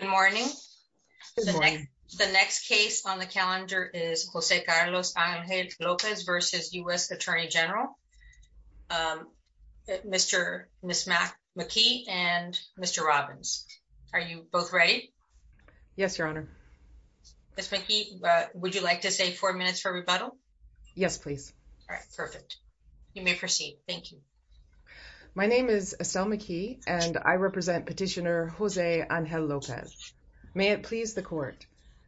Good morning. The next case on the calendar is Jose Carlos Angel-Lopez v. U.S. Attorney General. Ms. McKee and Mr. Robbins. Are you both ready? Yes, Your Honor. Ms. McKee, would you like to say four minutes for rebuttal? Yes, please. All right, perfect. You may proceed. Thank you. My name is Estelle McKee and I represent Petitioner Jose Angel-Lopez. May it please the court.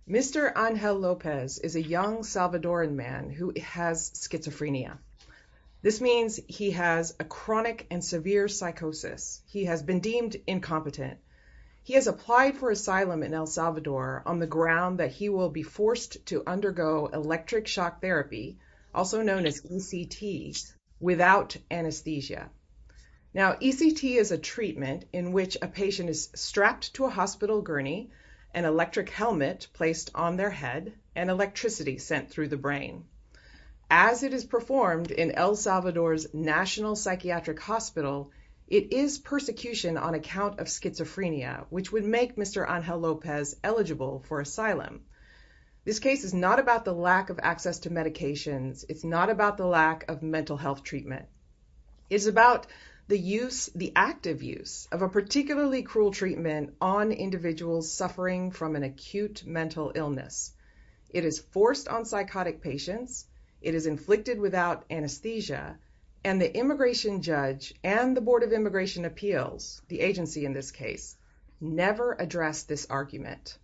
Mr. Angel-Lopez is a young Salvadoran man who has schizophrenia. This means he has a chronic and severe psychosis. He has been deemed incompetent. He has applied for asylum in El Salvador on the ground that he will be forced to undergo electric shock therapy, also known as ECT, without anesthesia. Now, ECT is a treatment in which a patient is strapped to a hospital gurney, an electric helmet placed on their head, and electricity sent through the brain. As it is performed in El Salvador's National Psychiatric Hospital, it is persecution on account of schizophrenia, which would make Mr. Angel-Lopez eligible for asylum. This case is not about the lack of access to medications. It's not about the lack of mental health treatment. It's about the active use of a particularly cruel treatment on individuals suffering from an acute mental illness. It is forced on psychotic patients. It is inflicted without anesthesia. And the immigration judge and the Board of Immigration Appeals, the agency in this case, never addressed this argument.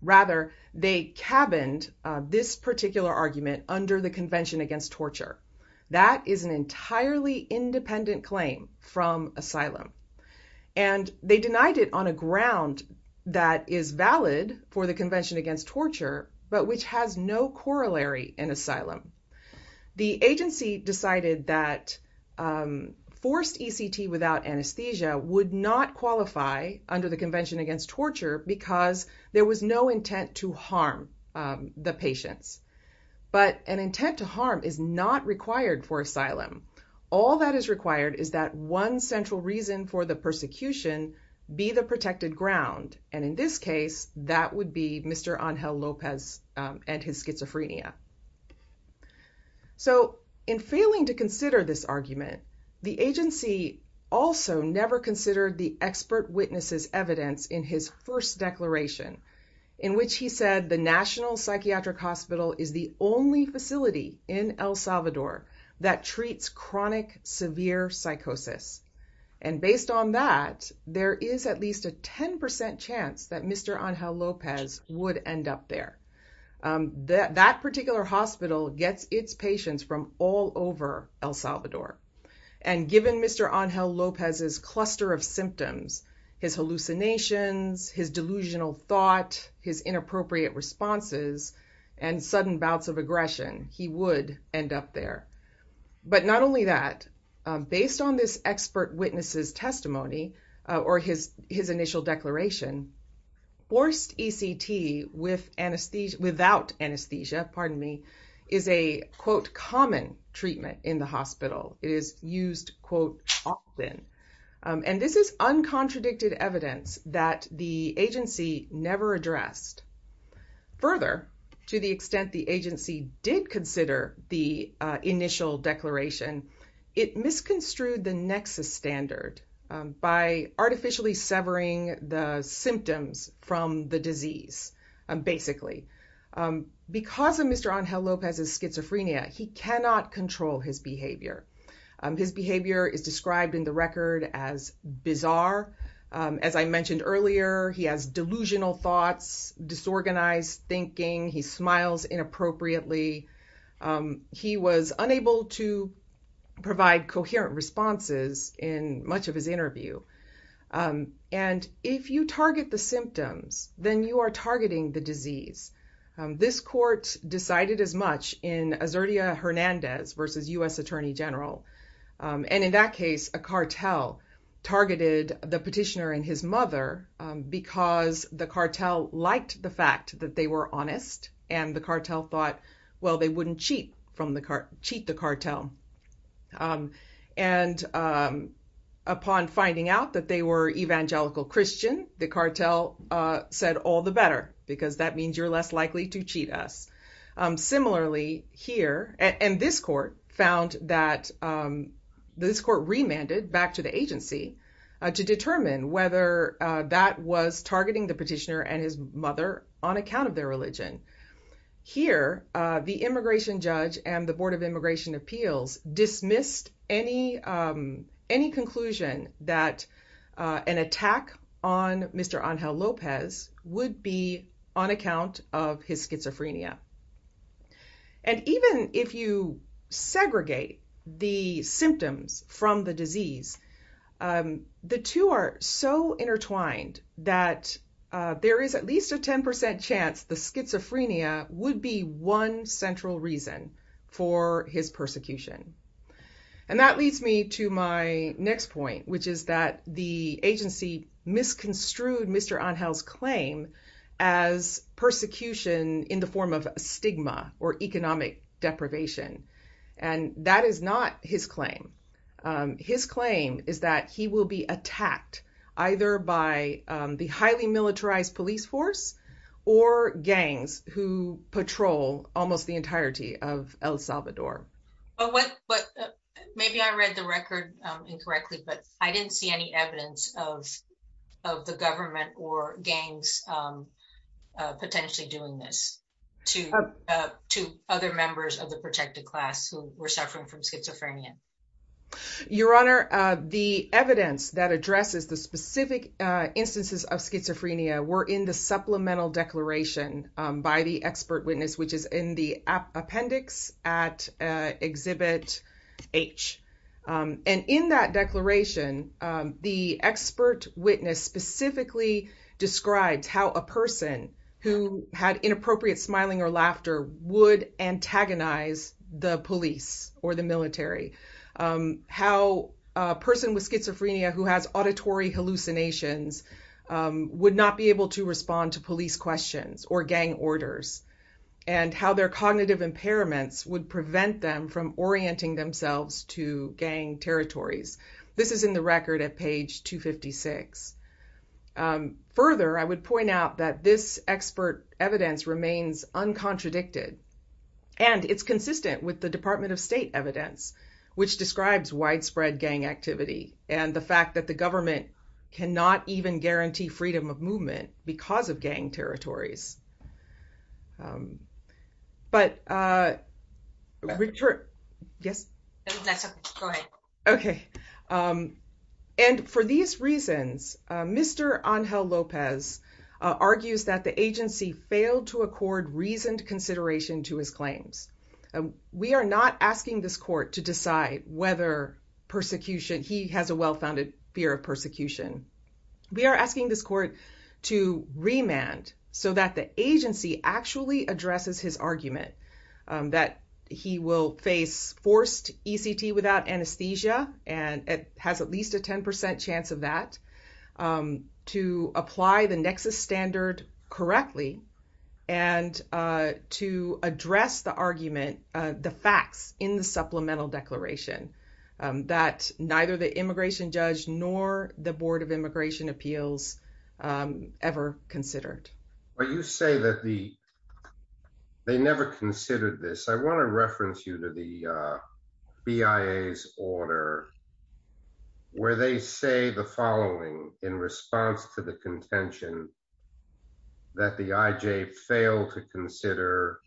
Rather, they cabined this particular argument under the Convention Against Torture. That is an entirely independent claim from asylum. And they denied it on a ground that is valid for the Convention Against Torture, but which has no corollary in asylum. The agency decided that forced ECT without anesthesia would not qualify under the Convention Against Torture because there was no intent to harm the patients. But an intent to harm is not required for asylum. All that is required is that one central reason for the persecution be the protected ground. And in this case, that would be Mr. Angel-Lopez and his schizophrenia. So in failing to consider this argument, the agency also never considered the expert witnesses' evidence in his first declaration, in which he said the National Psychiatric Hospital is the only facility in El Salvador that treats chronic severe psychosis. And based on that, there is at least a 10% chance that Mr. Angel-Lopez would end up there. That particular hospital gets its patients from all over El Salvador. And given Mr. Angel-Lopez's cluster of symptoms, his hallucinations, his delusional thought, his inappropriate responses, and sudden bouts of aggression, he would end up there. But not only that, based on this expert witnesses' testimony or his initial declaration, forced ECT without anesthesia, pardon me, is a, quote, common treatment in the hospital. It is used, quote, often. And this is uncontradicted evidence that the agency never addressed. Further, to the extent the agency did consider the initial declaration, it misconstrued the nexus standard by artificially severing the symptoms from the disease, basically. Because of Mr. Angel-Lopez's schizophrenia, he cannot control his behavior. His behavior is described in the record as bizarre. As I mentioned earlier, he has delusional thoughts, disorganized thinking. He smiles inappropriately. He was unable to provide coherent responses in much of his interview. And if you target the symptoms, then you are targeting the disease. This court decided as much in Azurdia Hernandez versus U.S. Attorney General. And in that case, a cartel targeted the petitioner and his mother because the cartel liked the fact that they were honest. And the cartel thought, well, they wouldn't cheat the cartel. And upon finding out that they were evangelical Christian, the cartel said, all the better, because that means you're less likely to cheat us. Similarly here, and this court found that, this court remanded back to the agency to determine whether that was targeting the petitioner and his mother on account of their religion. Here, the immigration judge and the board of immigration appeals dismissed any conclusion that an attack on Mr. Angel-Lopez would be on account of his schizophrenia. And even if you segregate the symptoms from the disease, the two are so intertwined that there is at least a 10% chance the schizophrenia would be one central reason for his persecution. And that leads me to my next point, which is that the agency misconstrued Mr. Angel's claim as persecution in the form of stigma or economic deprivation. And that is not his claim. His claim is that he will be attacked either by the highly militarized police force or gangs who patrol almost the entirety of El Salvador. But maybe I read the record incorrectly, but I didn't see any evidence of the government or gangs potentially doing this to other members of the protected class who were suffering from schizophrenia. Your Honor, the evidence that addresses the specific instances of schizophrenia were in the supplemental declaration by the expert witness, which is in the appendix at exhibit H. And in that declaration, the expert witness specifically describes how a person who had inappropriate smiling or laughter would antagonize the police or the military. How a person with schizophrenia who has auditory hallucinations would not be able to respond to police questions or gang orders, and how their cognitive impairments would prevent them from orienting themselves to gang territories. This is in the record at page 256. Further, I would point out that this expert evidence remains uncontradicted, and it's consistent with the Department of State evidence, which describes widespread gang activity and the fact that the government cannot even guarantee freedom of movement because of gang territories. But, Richard, yes, go ahead. Okay. And for these reasons, Mr. Ángel López argues that the agency failed to accord reasoned consideration to his claims. We are not asking this court to decide whether persecution, he has a well-founded fear of persecution. We are asking this court to remand so that the agency actually addresses his argument that he will face forced ECT without anesthesia, and it has at least a 10% chance of that, to apply the nexus standard correctly, and to address the argument, the facts in the supplemental declaration that neither the But you say that the, they never considered this. I want to reference you to the BIA's order, where they say the following in response to the contention that the IJ failed to consider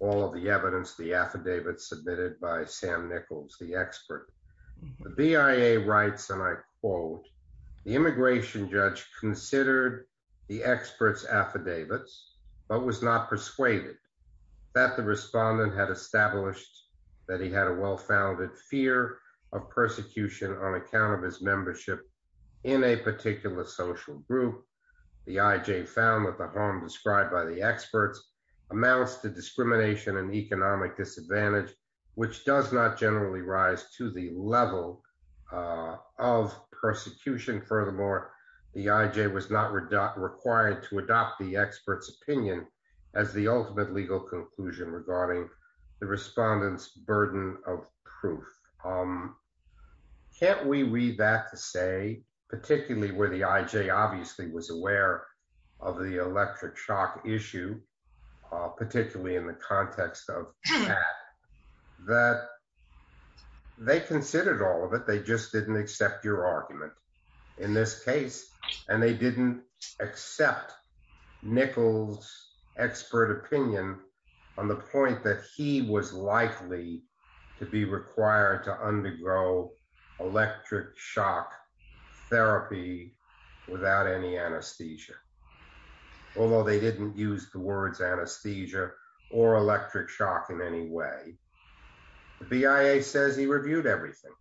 all of the evidence, the affidavit submitted by Sam Nichols, the expert. The BIA writes, and I quote, the immigration judge considered the expert's affidavits, but was not persuaded that the respondent had established that he had a well-founded fear of persecution on account of his membership in a particular social group. The IJ found that the harm described by the experts amounts to discrimination and economic disadvantage, which does not generally rise to the level of persecution. Furthermore, the IJ was not required to adopt the expert's opinion as the ultimate legal conclusion regarding the respondent's burden of proof. Can't we read that to say, particularly where the IJ obviously was aware of the electric shock issue, particularly in the context of that they considered all of it, they just didn't accept your argument in this case, and they didn't accept Nichols' expert opinion on the point that he was likely to be required to undergo electric shock therapy without any anesthesia, although they didn't use the words anesthesia or electric shock in any way. The BIA says he reviewed everything.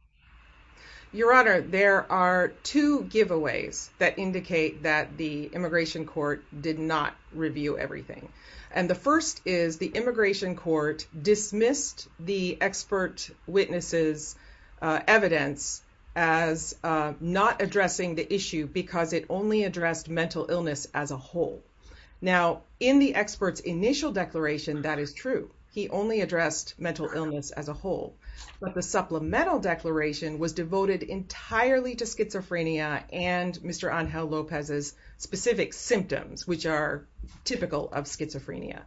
Your Honor, there are two giveaways that indicate that the immigration court did not review everything, and the first is the immigration court dismissed the expert witness's evidence as not addressing the issue because it only addressed mental illness as a whole. Now, in the expert's initial declaration, that is true. He only addressed mental illness as a whole, but the supplemental declaration was devoted entirely to schizophrenia and Mr. Ángel López's specific symptoms, which are typical of schizophrenia.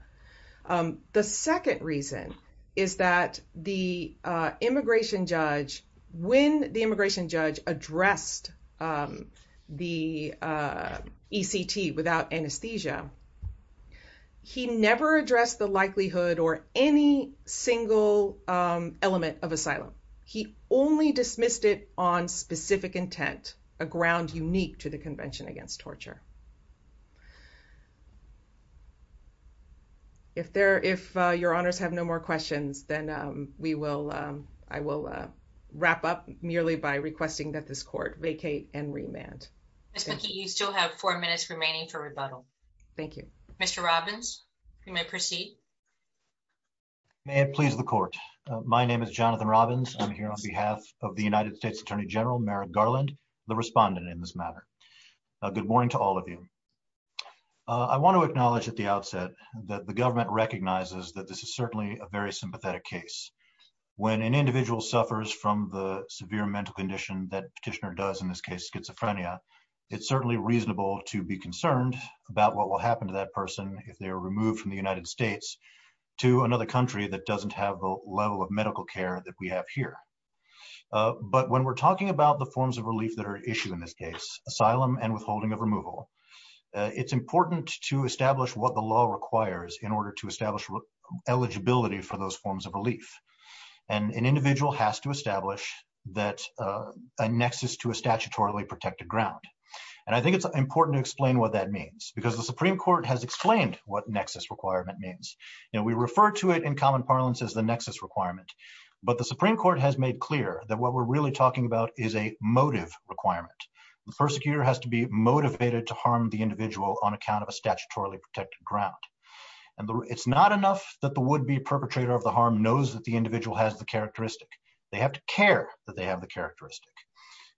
The second reason is that when the immigration judge addressed the ECT without anesthesia, he never addressed the likelihood or any single element of asylum. He only dismissed it on specific intent, a ground unique to the Convention Against Torture. If your honors have no more questions, then I will wrap up merely by requesting that this court vacate and remand. Ms. McKee, you still have four minutes remaining for rebuttal. Thank you. Mr. Robbins, you may proceed. May it please the court. My name is Jonathan Robbins. I'm here on behalf of the United States Attorney General Merrick Garland, the respondent in this matter. Good morning to all of you. I want to acknowledge at the outset that the government recognizes that this is certainly a very sympathetic case. When an individual suffers from the severe mental condition that petitioner does, in this case, schizophrenia, it's certainly reasonable to be concerned about what will happen to that person if they are removed from the United States to another country that doesn't have the level of medical care that we have here. But when we're talking about the forms of relief that are issued in this case, asylum and withholding of removal, it's important to establish what the law requires in order to establish eligibility for those forms of relief. An individual has to establish a nexus to a statutorily protected ground. I think it's important to explain what that means because the Supreme Court has explained what nexus requirement means. We refer to it in common parlance as the nexus requirement. But the Supreme Court has made clear that what we're really talking about is a motive requirement. The persecutor has to be motivated to harm the individual on account of a statutorily protected ground. And it's not enough that the would-be perpetrator of the harm knows that the individual has the characteristic. They have to care that they have the characteristic.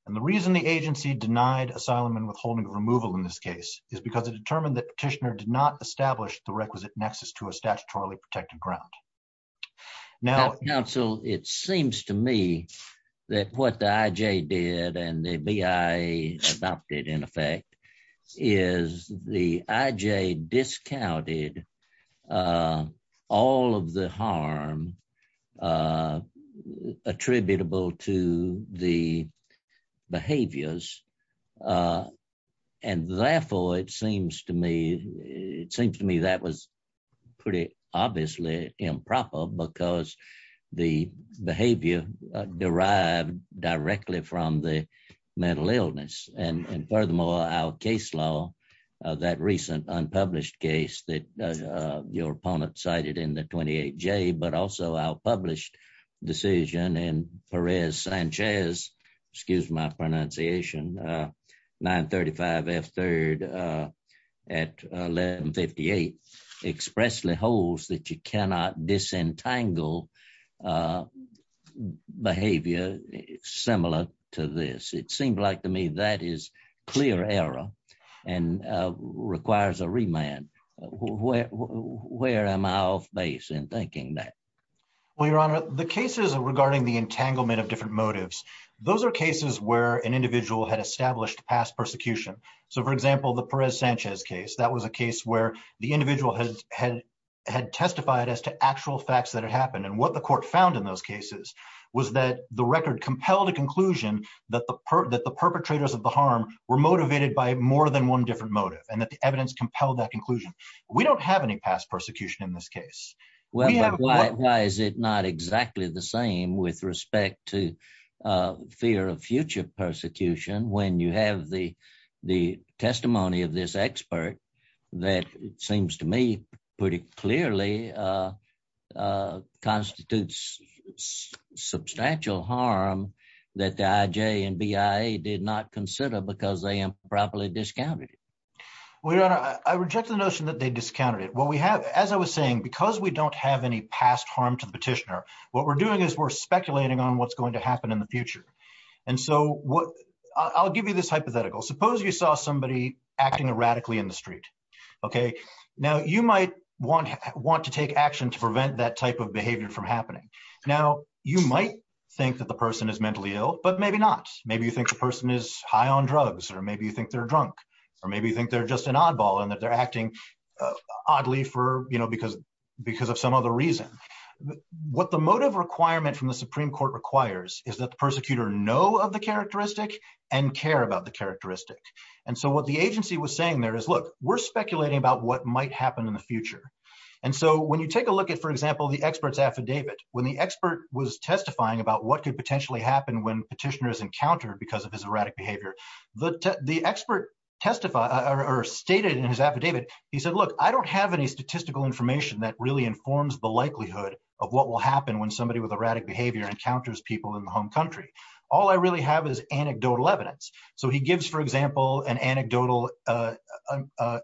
And the reason the agency denied asylum and withholding of removal in this case is because it determined that petitioner did not establish the requisite nexus to a statutorily protected ground. Now, counsel, it seems to me that what the IJ did and the BIA adopted in effect is the IJ discounted all of the harm attributable to the behaviors. And therefore, it seems to me, it seems to me that was pretty obviously improper because the behavior derived directly from the mental illness. And furthermore, our case law, that recent unpublished case that your opponent cited in the 28J, but also our published decision in Perez-Sanchez, excuse my pronunciation, 935 F3rd at 1158, expressly holds that you cannot disentangle behavior similar to this. It seems like to me that is clear error and requires a The cases regarding the entanglement of different motives, those are cases where an individual had established past persecution. So for example, the Perez-Sanchez case, that was a case where the individual had testified as to actual facts that had happened. And what the court found in those cases was that the record compelled a conclusion that the perpetrators of the harm were motivated by more than one different motive and that the evidence compelled that conclusion. We don't have any past persecution in this case. Well, why is it not exactly the same with respect to fear of future persecution when you have the testimony of this expert that seems to me pretty clearly constitutes substantial harm that the IJ and BIA did not consider because they improperly discounted it? Your Honor, I reject the notion that they discounted it. What we have, as I was saying, because we don't have any past harm to the petitioner, what we're doing is we're speculating on what's going to happen in the future. And so I'll give you this hypothetical. Suppose you saw somebody acting erratically in the street, okay? Now you might want to take action to prevent that type of behavior from happening. Now you might think that the person is mentally ill, but maybe not. Maybe you think the person is high on drugs, or maybe you think they're drunk, or maybe you just think they're an oddball and that they're acting oddly because of some other reason. What the motive requirement from the Supreme Court requires is that the persecutor know of the characteristic and care about the characteristic. And so what the agency was saying there is, look, we're speculating about what might happen in the future. And so when you take a look at, for example, the expert's affidavit, when the expert was testifying about what could potentially happen when petitioner is encountered because of his testify or stated in his affidavit, he said, look, I don't have any statistical information that really informs the likelihood of what will happen when somebody with erratic behavior encounters people in the home country. All I really have is anecdotal evidence. So he gives, for example, an anecdotal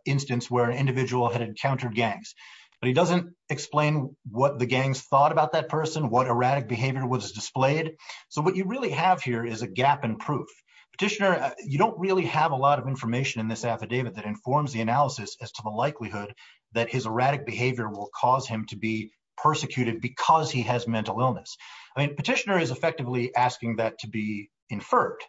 instance where an individual had encountered gangs, but he doesn't explain what the gangs thought about that person, what erratic behavior was displayed. So what you really have here is a gap in proof. Petitioner, you don't really have a lot of information in this affidavit that informs the analysis as to the likelihood that his erratic behavior will cause him to be persecuted because he has mental illness. I mean, petitioner is effectively asking that to be inferred.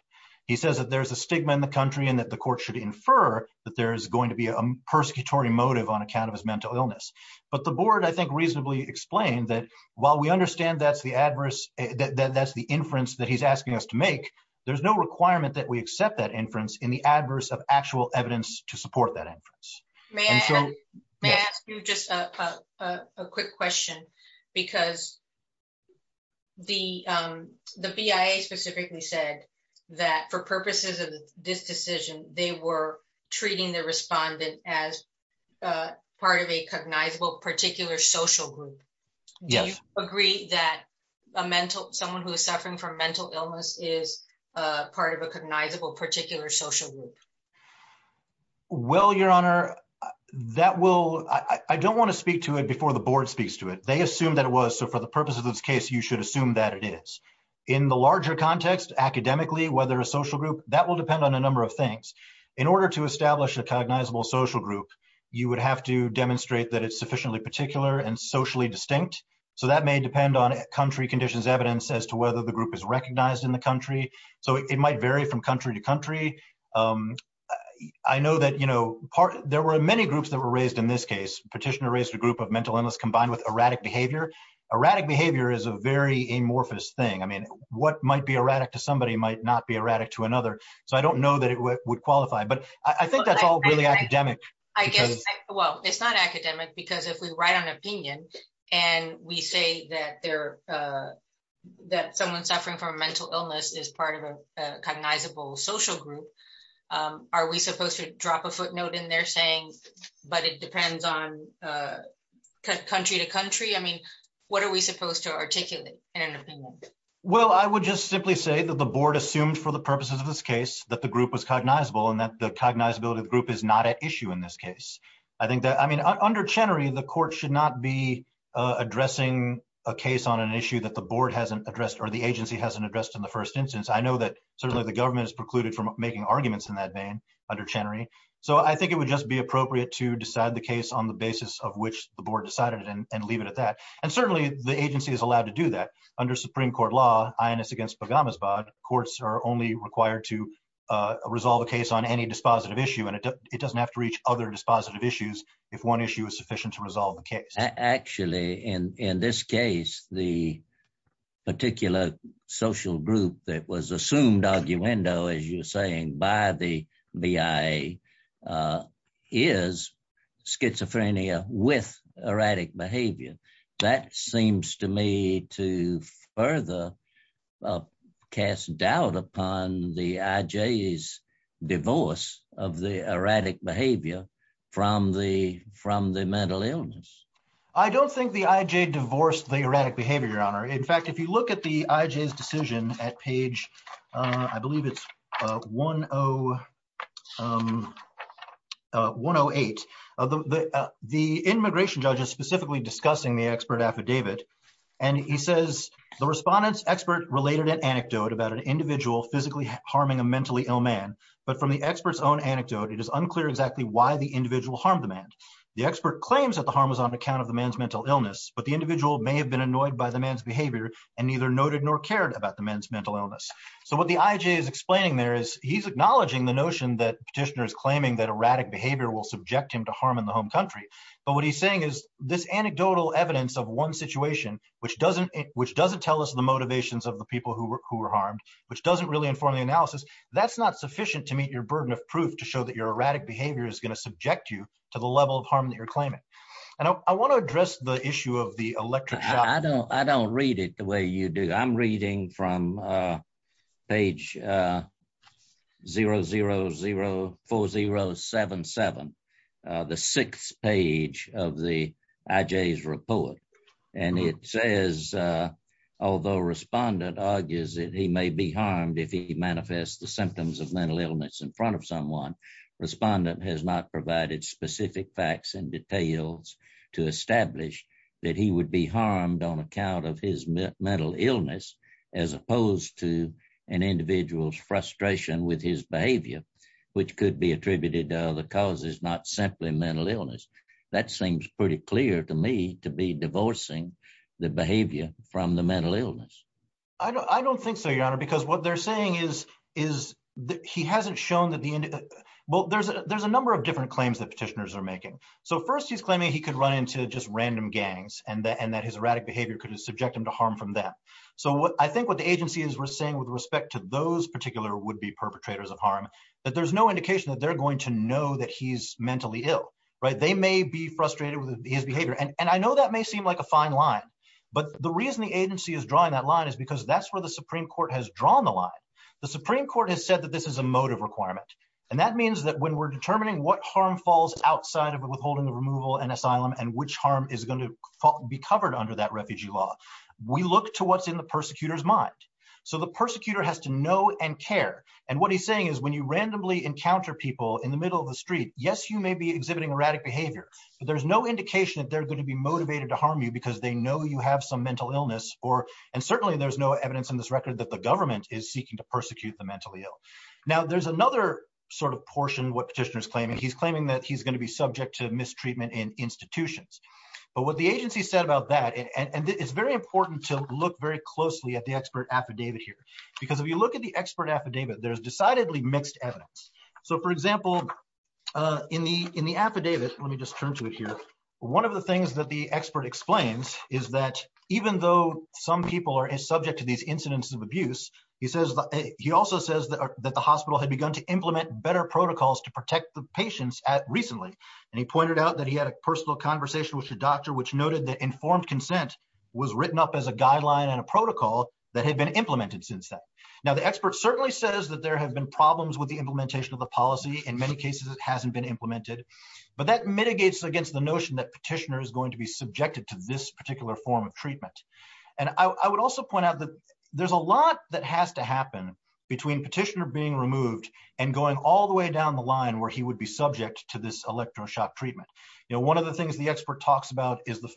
He says that there's a stigma in the country and that the court should infer that there is going to be a persecutory motive on account of his mental illness. But the board, I think, reasonably explained that while we understand that's the adverse, that's the inference that he's asking us to make, there's no requirement that we accept that inference in the adverse of actual evidence to support that inference. May I ask you just a quick question? Because the BIA specifically said that for purposes of this decision, they were treating the respondent as part of a cognizable particular social group. Do you agree that someone who is suffering from mental illness is part of a cognizable particular social group? Well, Your Honor, that will, I don't want to speak to it before the board speaks to it. They assumed that it was. So for the purpose of this case, you should assume that it is. In the larger context, academically, whether a social group, that will depend on a number of things. In order to establish a cognizable social group, you would have to demonstrate that it's sufficiently particular and socially distinct. So that may depend on country conditions evidence as to whether the group is recognized in the country. So it might vary from country to country. I know that, you know, there were many groups that were raised in this case. Petitioner raised a group of mental illness combined with erratic behavior. Erratic behavior is a very amorphous thing. I mean, what might be erratic to somebody might not be erratic to another. So I don't know that it would qualify, but I think that's all really academic. I guess, well, it's not academic because if we write an opinion and we say that someone suffering from a mental illness is part of a cognizable social group, are we supposed to drop a footnote in there saying, but it depends on country to country? I mean, what are we supposed to articulate in an opinion? Well, I would just simply say that the board assumed for the purposes of this case that the group was cognizable and that the cognizability of the group is not at issue in this case. I think that, I mean, under Chenery, the court should not be addressing a case on an issue that the board hasn't addressed or the agency hasn't addressed in the first instance. I know that certainly the government is precluded from making arguments in that vein under Chenery. So I think it would just be appropriate to decide the case on the basis of which the board decided and leave it at that. And certainly the agency is allowed to do that. Under Supreme Court law, INS against Pogamos-Bod, courts are only required to resolve a case on any dispositive issue and it doesn't have to reach other dispositive issues if one issue is sufficient to resolve the case. Actually, in this case, the particular social group that was assumed arguendo, as you're saying, by the BIA is schizophrenia with erratic behavior. That seems to me to further cast doubt upon the IJ's divorce of the erratic behavior from the mental illness. I don't think the IJ divorced the erratic behavior, Your Honor. In fact, if you look at the IJ's decision at page, I believe it's 108, the immigration judge is specifically discussing the expert affidavit and he says, the respondent's expert related an anecdote about an individual physically harming a mentally ill man, but from the expert's own anecdote, it is unclear exactly why the individual harmed the man. The expert claims that the harm was on account of the man's mental illness, but the individual may have been annoyed by the man's behavior and neither noted nor cared about the man's mental illness. So what the IJ is explaining there is he's acknowledging the notion that petitioner is claiming that erratic behavior will subject him to harm in the home country. But what he's saying is this anecdotal evidence of one situation, which doesn't tell us the motivations of the people who were harmed, which doesn't really inform the analysis, that's not sufficient to meet your burden of proof to show that your erratic behavior is going to subject you to the level of harm that you're claiming. And I want to address the issue of the electric shock. I don't read it the way you do. I'm reading from page 0004077, the sixth page of the IJ's report. And it says, although respondent argues that he may be harmed if he manifests the symptoms of mental illness in front of someone, respondent has not provided specific facts and details to establish that he would be harmed on account of his mental illness, as opposed to an individual's frustration with his behavior, which could be attributed to other causes, not simply mental illness. That seems pretty clear to me to be divorcing the behavior from the mental illness. I don't think so, your honor, because what they're saying is that he hasn't shown that the, well, there's a number of different claims that petitioners are making. So first he's claiming he could run into just random gangs and that his erratic behavior could subject him to harm from them. So I think what the agency is saying with respect to those particular would-be perpetrators of harm, that there's no indication that they're going to know that he's mentally ill, right? They may be frustrated with his behavior. And I know that may seem like a fine line, but the reason the agency is drawing that line is because that's where the Supreme Court has drawn the line. The Supreme Court has said that this is a motive requirement. And that means that when we're determining what harm falls outside of withholding the removal and asylum, and which harm is going to be covered under that refugee law, we look to what's in the persecutor's know and care. And what he's saying is when you randomly encounter people in the middle of the street, yes, you may be exhibiting erratic behavior, but there's no indication that they're going to be motivated to harm you because they know you have some mental illness or, and certainly there's no evidence in this record that the government is seeking to persecute the mentally ill. Now there's another sort of portion what petitioner's claiming. He's claiming that he's going to be subject to mistreatment in institutions. But what the agency said about that, and it's very the expert affidavit, there's decidedly mixed evidence. So for example, in the affidavit, let me just turn to it here. One of the things that the expert explains is that even though some people are subject to these incidents of abuse, he says, he also says that the hospital had begun to implement better protocols to protect the patients at recently. And he pointed out that he had a personal conversation with your doctor, which noted that informed consent was written up as a guideline and a protocol that had been implemented since then. Now the expert certainly says that there have been problems with the implementation of the policy. In many cases, it hasn't been implemented, but that mitigates against the notion that petitioner is going to be subjected to this particular form of treatment. And I would also point out that there's a lot that has to happen between petitioner being removed and going all the way down the line where he would be subject to this electroshock treatment. You know, one of the things the expert talks about is the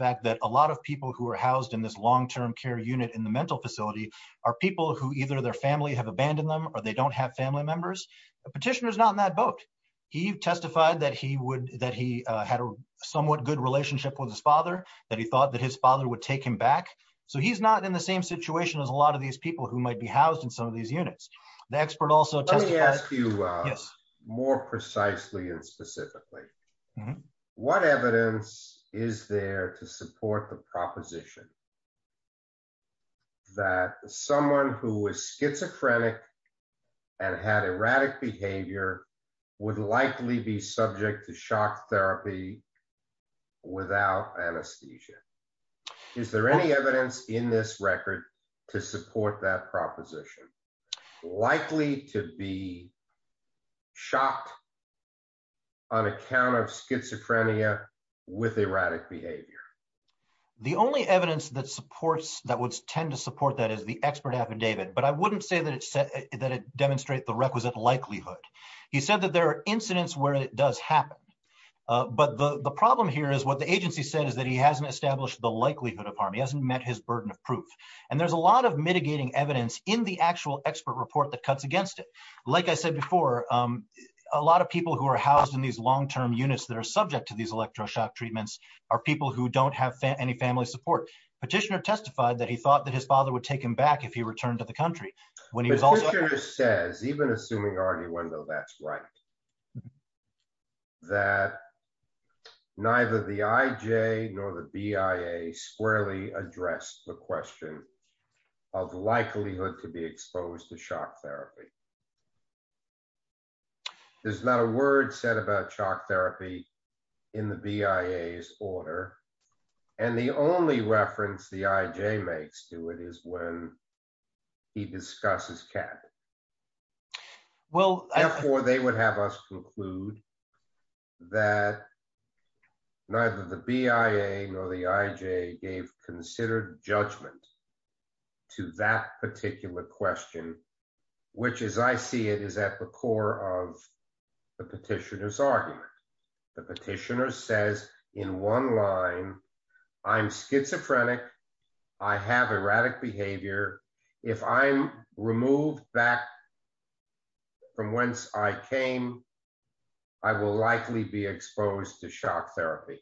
in the mental facility are people who either their family have abandoned them or they don't have family members. Petitioner is not in that boat. He testified that he had a somewhat good relationship with his father, that he thought that his father would take him back. So he's not in the same situation as a lot of these people who might be housed in some of these units. Let me ask you more precisely and specifically, what evidence is there to support the proposition that someone who is schizophrenic and had erratic behavior would likely be subject to shock therapy without anesthesia? Is there any evidence in this record to support that proposition, likely to be shocked on account of schizophrenia with erratic behavior? The only evidence that supports that would tend to support that is the expert affidavit, but I wouldn't say that it said that it demonstrate the requisite likelihood. He said that there are incidents where it does happen. But the problem here is what the agency said is that he hasn't established the likelihood of harm. He hasn't met his burden of proof. And there's a lot of mitigating evidence in the actual expert report that cuts against it. Like I said before, a lot of people who are housed in these long term units that are subject to these any family support. Petitioner testified that he thought that his father would take him back if he returned to the country. Petitioner says, even assuming Arduendo that's right, that neither the IJ nor the BIA squarely addressed the question of likelihood to be exposed to shock therapy. There's not a word said about shock therapy in the BIA's order. And the only reference the IJ makes to it is when he discusses CAP. Well, therefore they would have us conclude that neither the BIA nor the IJ gave considered judgment to that particular question, which as I see it is at the core of petitioner's argument. The petitioner says in one line, I'm schizophrenic. I have erratic behavior. If I'm removed back from whence I came, I will likely be exposed to shock therapy.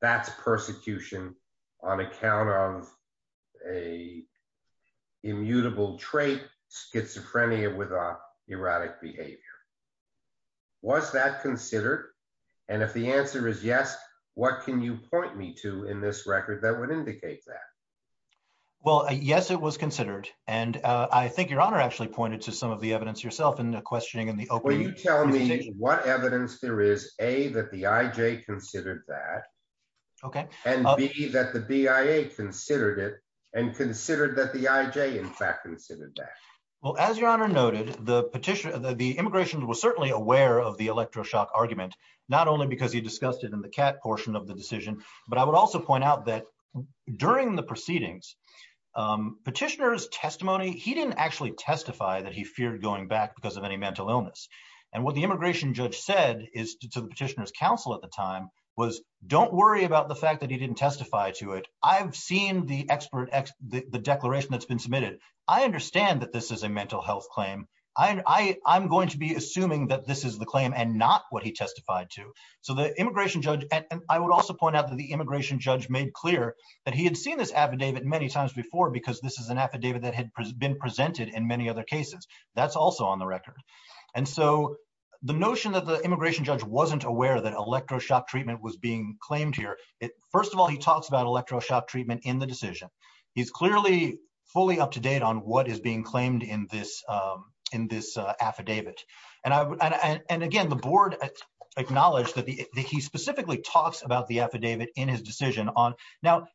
That's persecution on account of a immutable trait, schizophrenia with erratic behavior. Was that considered? And if the answer is yes, what can you point me to in this record that would indicate that? Well, yes, it was considered. And I think your honor actually pointed to some of the evidence yourself in the questioning in the opening. Will you tell me what evidence there is, A, that the IJ considered that. Okay. And B, that the BIA considered it and considered that the IJ in fact considered that. Well, as your honor noted, the immigration was certainly aware of the electroshock argument, not only because he discussed it in the CAT portion of the decision, but I would also point out that during the proceedings, petitioner's testimony, he didn't actually testify that he feared going back because of any mental illness. And what the immigration judge said is to the petitioner's counsel at the time was don't worry about the fact that he didn't testify to it. I've seen the declaration that's been submitted. I understand that this is a mental health claim. I'm going to be assuming that this is the claim and not what he testified to. So the immigration judge, and I would also point out that the immigration judge made clear that he had seen this affidavit many times before because this is an affidavit that had been presented in many other cases. That's also on the record. And so the notion that the immigration judge wasn't aware that electroshock treatment was being claimed here, first of all, he talks about electroshock treatment in the decision. He's clearly fully up to date on what is being claimed in this affidavit. And again, the board acknowledged that he specifically talks about the affidavit in his decision. Now,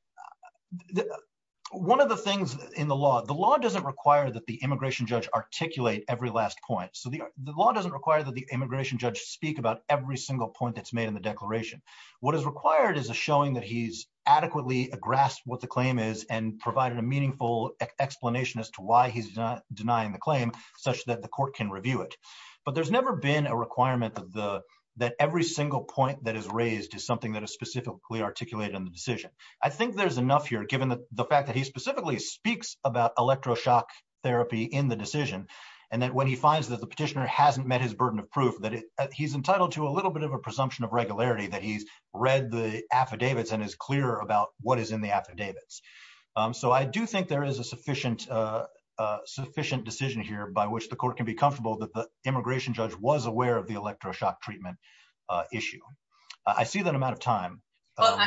one of the things in the law, the law doesn't require that the immigration judge articulate every last point. So the law doesn't require that the immigration judge speak about every single point that's made in the declaration. What is required is a showing that he's adequately grasped what the claim is and provided a meaningful explanation as to why he's not denying the claim such that the court can review it. But there's never been a requirement that every single point that is raised is something that is specifically articulated in the decision. I think there's enough here, given the fact that he specifically speaks about electroshock therapy in the decision, and that when he finds that the petitioner hasn't met his burden of proof, that he's entitled to a presumption of regularity that he's read the affidavits and is clear about what is in the affidavits. So I do think there is a sufficient decision here by which the court can be comfortable that the immigration judge was aware of the electroshock treatment issue. I see that I'm out of time. I'm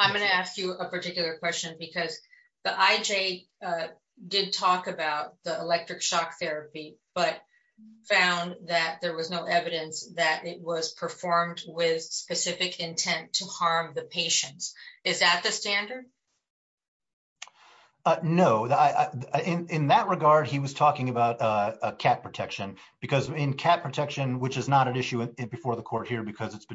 going to ask you a particular question because the IJ did talk about the electroshock therapy, but found that there was no evidence that it was performed with specific intent to harm the patients. Is that the standard? No. In that regard, he was talking about cat protection, because in cat protection, which is not an issue before the court here because it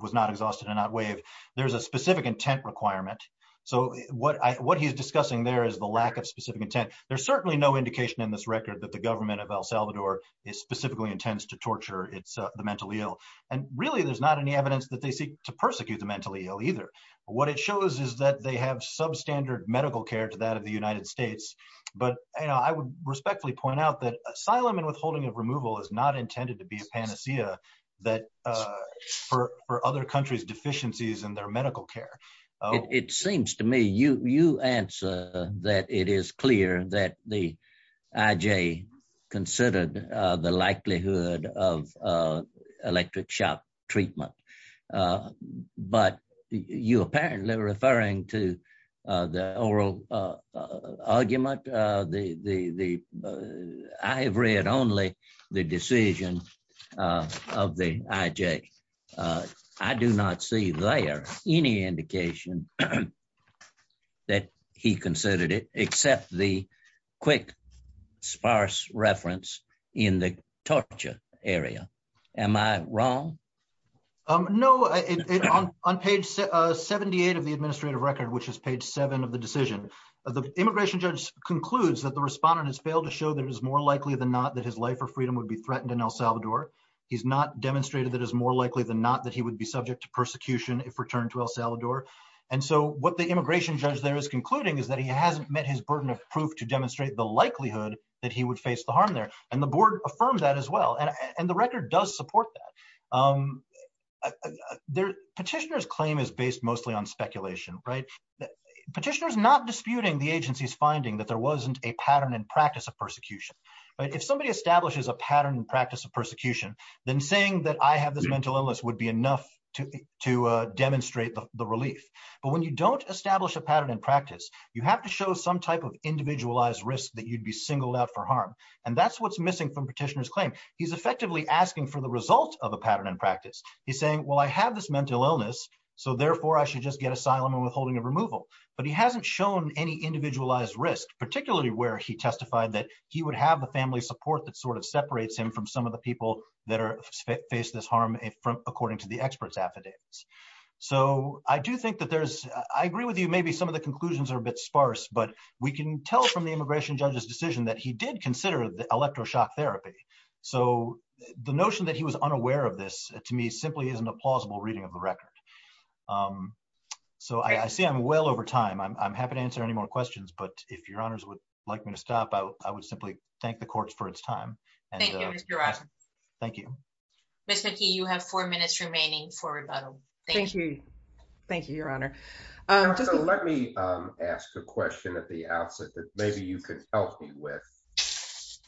was not exhausted and not waived, there's a specific intent requirement. So what he's discussing there is the lack of specific intent. There's certainly no indication in this record that the government of El Salvador is specifically intends to torture the mentally ill. And really, there's not any evidence that they seek to persecute the mentally ill either. What it shows is that they have substandard medical care to that of the United States. But I would respectfully point out that asylum and withholding of removal is not intended to be a panacea for other countries' deficiencies in medical care. It seems to me you answer that it is clear that the IJ considered the likelihood of electroshock treatment. But you apparently referring to the oral argument. I have read only the decision of the IJ. I do not see there any indication that he considered it except the quick, sparse reference in the torture area. Am I wrong? No. On page 78 of the administrative record, which is page seven of the decision, the immigration judge concludes that the respondent has failed to show that it is more likely that he would be subject to persecution if returned to El Salvador. And so what the immigration judge there is concluding is that he hasn't met his burden of proof to demonstrate the likelihood that he would face the harm there. And the board affirmed that as well. And the record does support that. Petitioner's claim is based mostly on speculation, right? Petitioner's not disputing the agency's finding that there wasn't a pattern and practice of persecution. If somebody establishes a pattern and practice of persecution, then saying that I have this mental illness would be enough to demonstrate the relief. But when you don't establish a pattern and practice, you have to show some type of individualized risk that you'd be singled out for harm. And that's what's missing from petitioner's claim. He's effectively asking for the result of a pattern and practice. He's saying, well, I have this mental illness, so therefore I should just get asylum and withholding of removal. But he hasn't shown any individualized risk, particularly where he testified that he would have the family support that sort of separates him from some of the people that face this harm according to the expert's affidavits. So I do think that there's, I agree with you, maybe some of the conclusions are a bit sparse, but we can tell from the immigration judge's decision that he did consider the electroshock therapy. So the notion that he was unaware of this, to me, simply isn't a plausible reading of the record. So I see I'm well over but if your honors would like me to stop, I would simply thank the courts for its time. Thank you, Mr. Rogers. Thank you. Ms. McKee, you have four minutes remaining for rebuttal. Thank you. Thank you, your honor. Let me ask a question at the outset that maybe you can help me with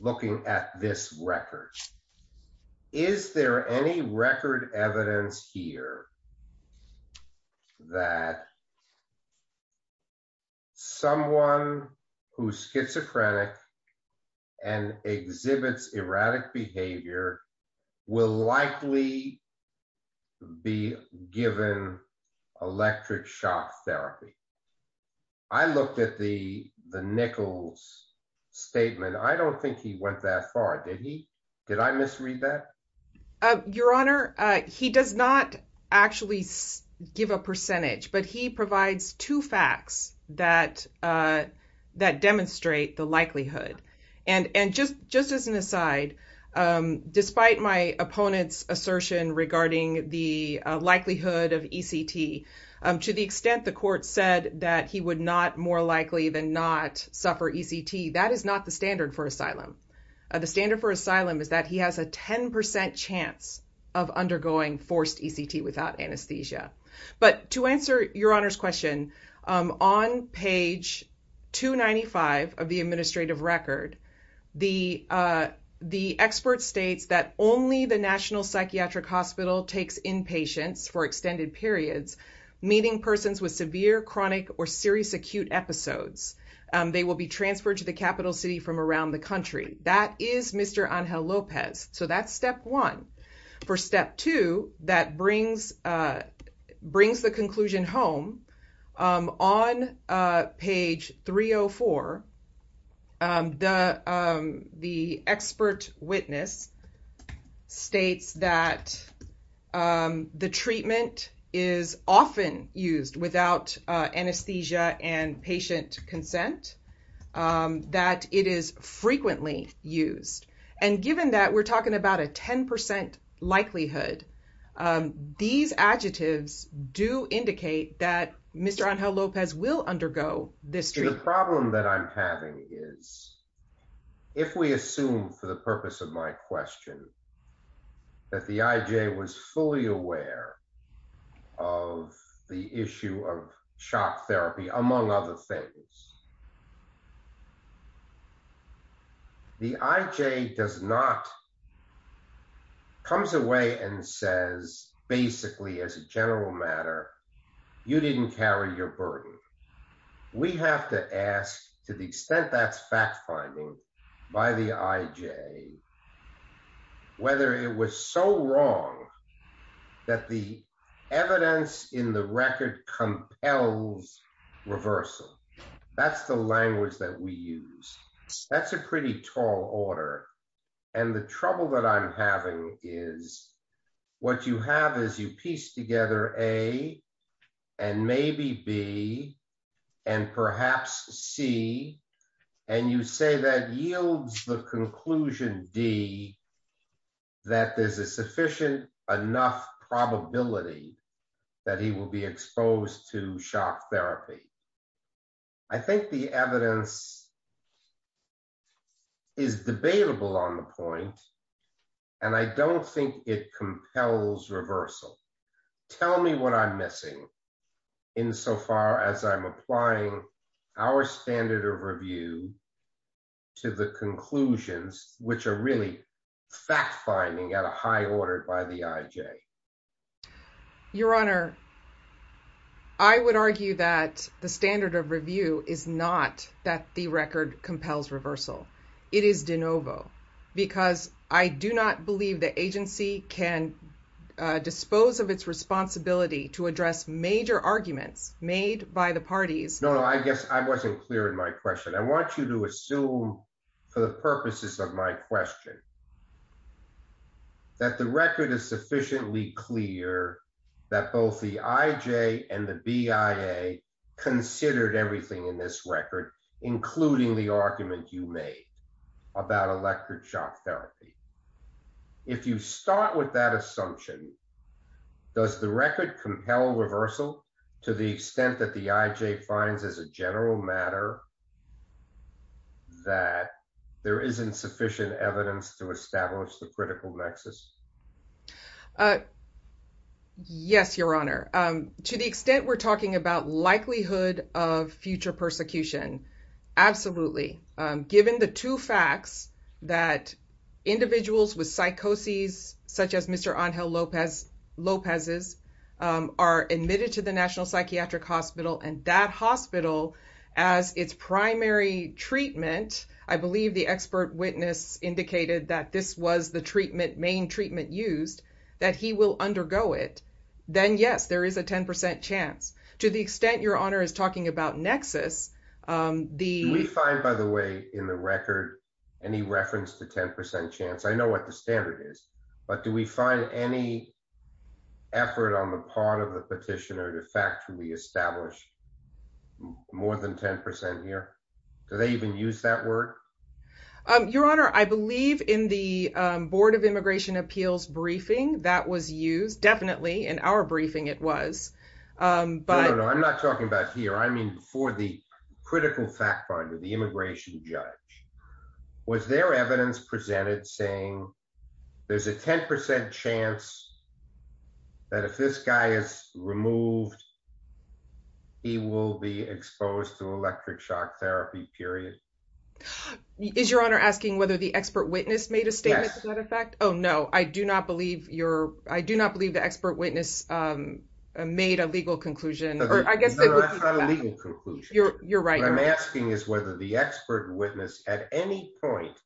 looking at this record. Is there any record evidence here that someone who's schizophrenic and exhibits erratic behavior will likely be given electroshock therapy? I looked at the Nichols statement. I don't think he went that far, did he? Did I misread that? Your honor, he does not actually give a percentage, but he provides two facts that demonstrate the likelihood. And just as an aside, despite my opponent's assertion regarding the likelihood of ECT, to the extent the court said that he would not more likely than not suffer ECT, that is not the standard for asylum. The standard for asylum is that he has a 10% chance of undergoing forced ECT without anesthesia. But to answer your honor's question, on page 295 of the administrative record, the expert states that only the National Psychiatric Hospital takes inpatients for extended periods, meeting persons with severe, chronic, or serious episodes. They will be transferred to the capital city from around the country. That is Mr. Angel Lopez. So that's step one. For step two, that brings the conclusion home. On page 304, the expert witness states that the treatment is often used without anesthesia and patient consent, that it is frequently used. And given that we're talking about a 10% likelihood, these adjectives do indicate that Mr. Angel Lopez will undergo this treatment. The problem that I'm having is, if we assume for the purpose of my question, that the IJ was fully aware of the issue of shock therapy, among other things, the IJ does not, comes away and says, basically as a general matter, you didn't carry your burden. We have to ask to the extent that's fact finding by the IJ, whether it was so wrong that the evidence in the record compels reversal. That's the language that we use. That's a pretty tall order. And the trouble that I'm having is what you have is you piece together A and maybe B and perhaps C, and you say that yields the conclusion D, that there's a sufficient enough probability that he will be exposed to shock therapy. I think the evidence is debatable on the point, and I don't think it compels reversal. Tell me what I'm missing insofar as I'm applying our standard of review to the conclusions, which are really fact finding at a high order by the IJ. Your Honor, I would argue that the standard of review is not that the record compels reversal. It is de novo, because I do not believe the agency can dispose of its responsibility to address major arguments made by the parties. No, no, I guess I wasn't clear in my question. I want you to assume for the purposes of my question that the record is sufficiently clear that both the IJ and the BIA considered everything in this record, including the argument you made about electric shock therapy. If you start with that assumption, does the record compel reversal to the extent that the IJ finds as a general matter that there isn't sufficient evidence to establish the critical nexus? Yes, Your Honor. To the extent we're talking about likelihood of future persecution, absolutely. Given the two facts that individuals with psychoses, such as Mr. Angel Lopez's, are admitted to the National Psychiatric Hospital and that hospital as its primary treatment, I believe the expert witness indicated that this was the treatment, main treatment used, that he will undergo it, then yes, there is a 10% chance. To the extent Your Honor is talking about nexus, the- Do we find, by the way, in the record, any reference to 10% chance? I know what the standard is, but do we find any effort on the part of the petitioner to factually establish more than 10% here? Do they even use that word? Your Honor, I believe in the Board of Immigration Appeals briefing that was used, definitely in our briefing it was, but- No, no, no. I'm not talking about here. I mean for the critical fact finder, the immigration judge. Was there evidence presented saying there's a 10% chance that if this guy is removed, he will be exposed to electric shock therapy, period? Is Your Honor asking whether the expert witness made a statement to that effect? Yes. Oh, no. I do not believe the expert witness made a legal conclusion, or I guess- No, that's not a legal conclusion. You're right. What I'm asking is whether the expert witness at any point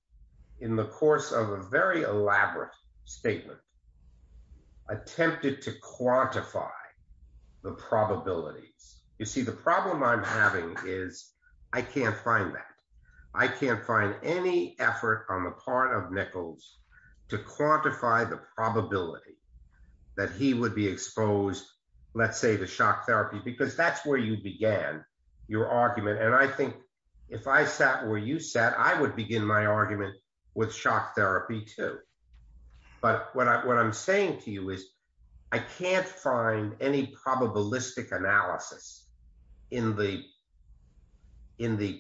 in the course of a very elaborate statement attempted to quantify the probabilities. You see, the problem I'm having is I can't find that. I can't find any effort on the part of Nichols to quantify the probability that he would be exposed, let's say to shock therapy, because that's where you began your argument. And I think if I sat where you sat, I would begin my argument with shock therapy too. But what I'm saying to you is I can't find any probabilistic analysis in the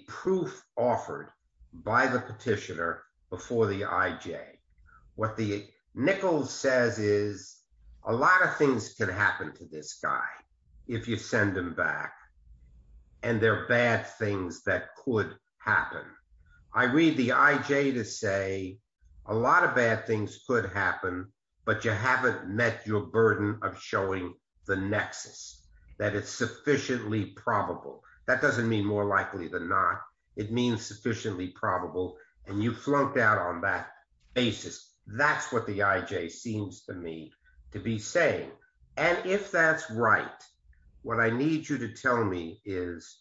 proof offered by the petitioner before the IJ. What the Nichols says is a lot of things can happen to this guy if you send him back, and there are bad things that could happen. I read the IJ to say a lot of bad things could happen, but you haven't met your burden of showing the nexus, that it's sufficiently probable. That doesn't mean more likely than not. It means sufficiently probable, and you flunked out on that basis. That's what the IJ seems to me to be saying. And if that's right, what I need you to tell me is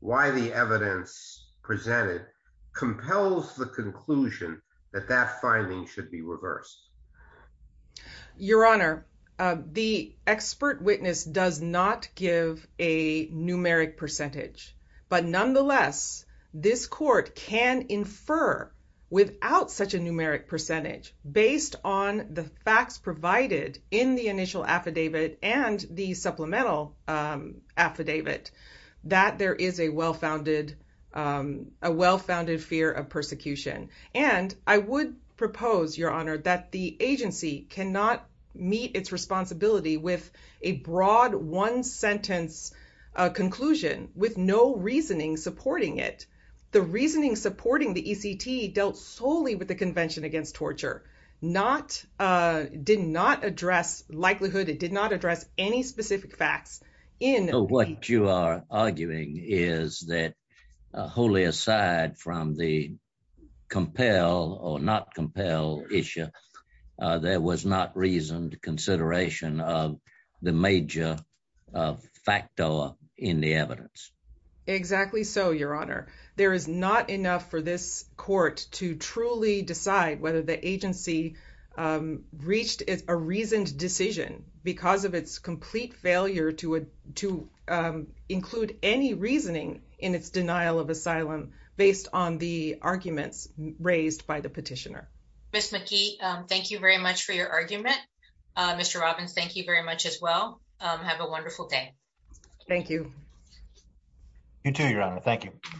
why the evidence presented compels the conclusion that that finding should be reversed. Your Honor, the expert witness does not give a numeric percentage, but nonetheless, this court can infer without such a numeric percentage, based on the facts provided in the initial affidavit and the supplemental affidavit, that there is a well-founded fear of persecution. And I would propose, Your Honor, that the agency cannot meet its responsibility with a broad one-sentence conclusion with no reasoning supporting it. The reasoning supporting the ECT dealt solely with the Convention Against Torture, did not address likelihood, it did not address any specific facts. What you are arguing is that wholly aside from the compel or not compel issue, there was not reasoned consideration of the major factor in the evidence. Exactly so, Your Honor. There is not enough for this court to truly decide whether the agency reached a reasoned decision because of its complete failure to include any reasoning in its denial of asylum based on the arguments raised by the petitioner. Ms. McKee, thank you very much for your argument. Mr. Robbins, thank you very much as well. Have a wonderful day. Thank you. You too, Your Honor. Thank you.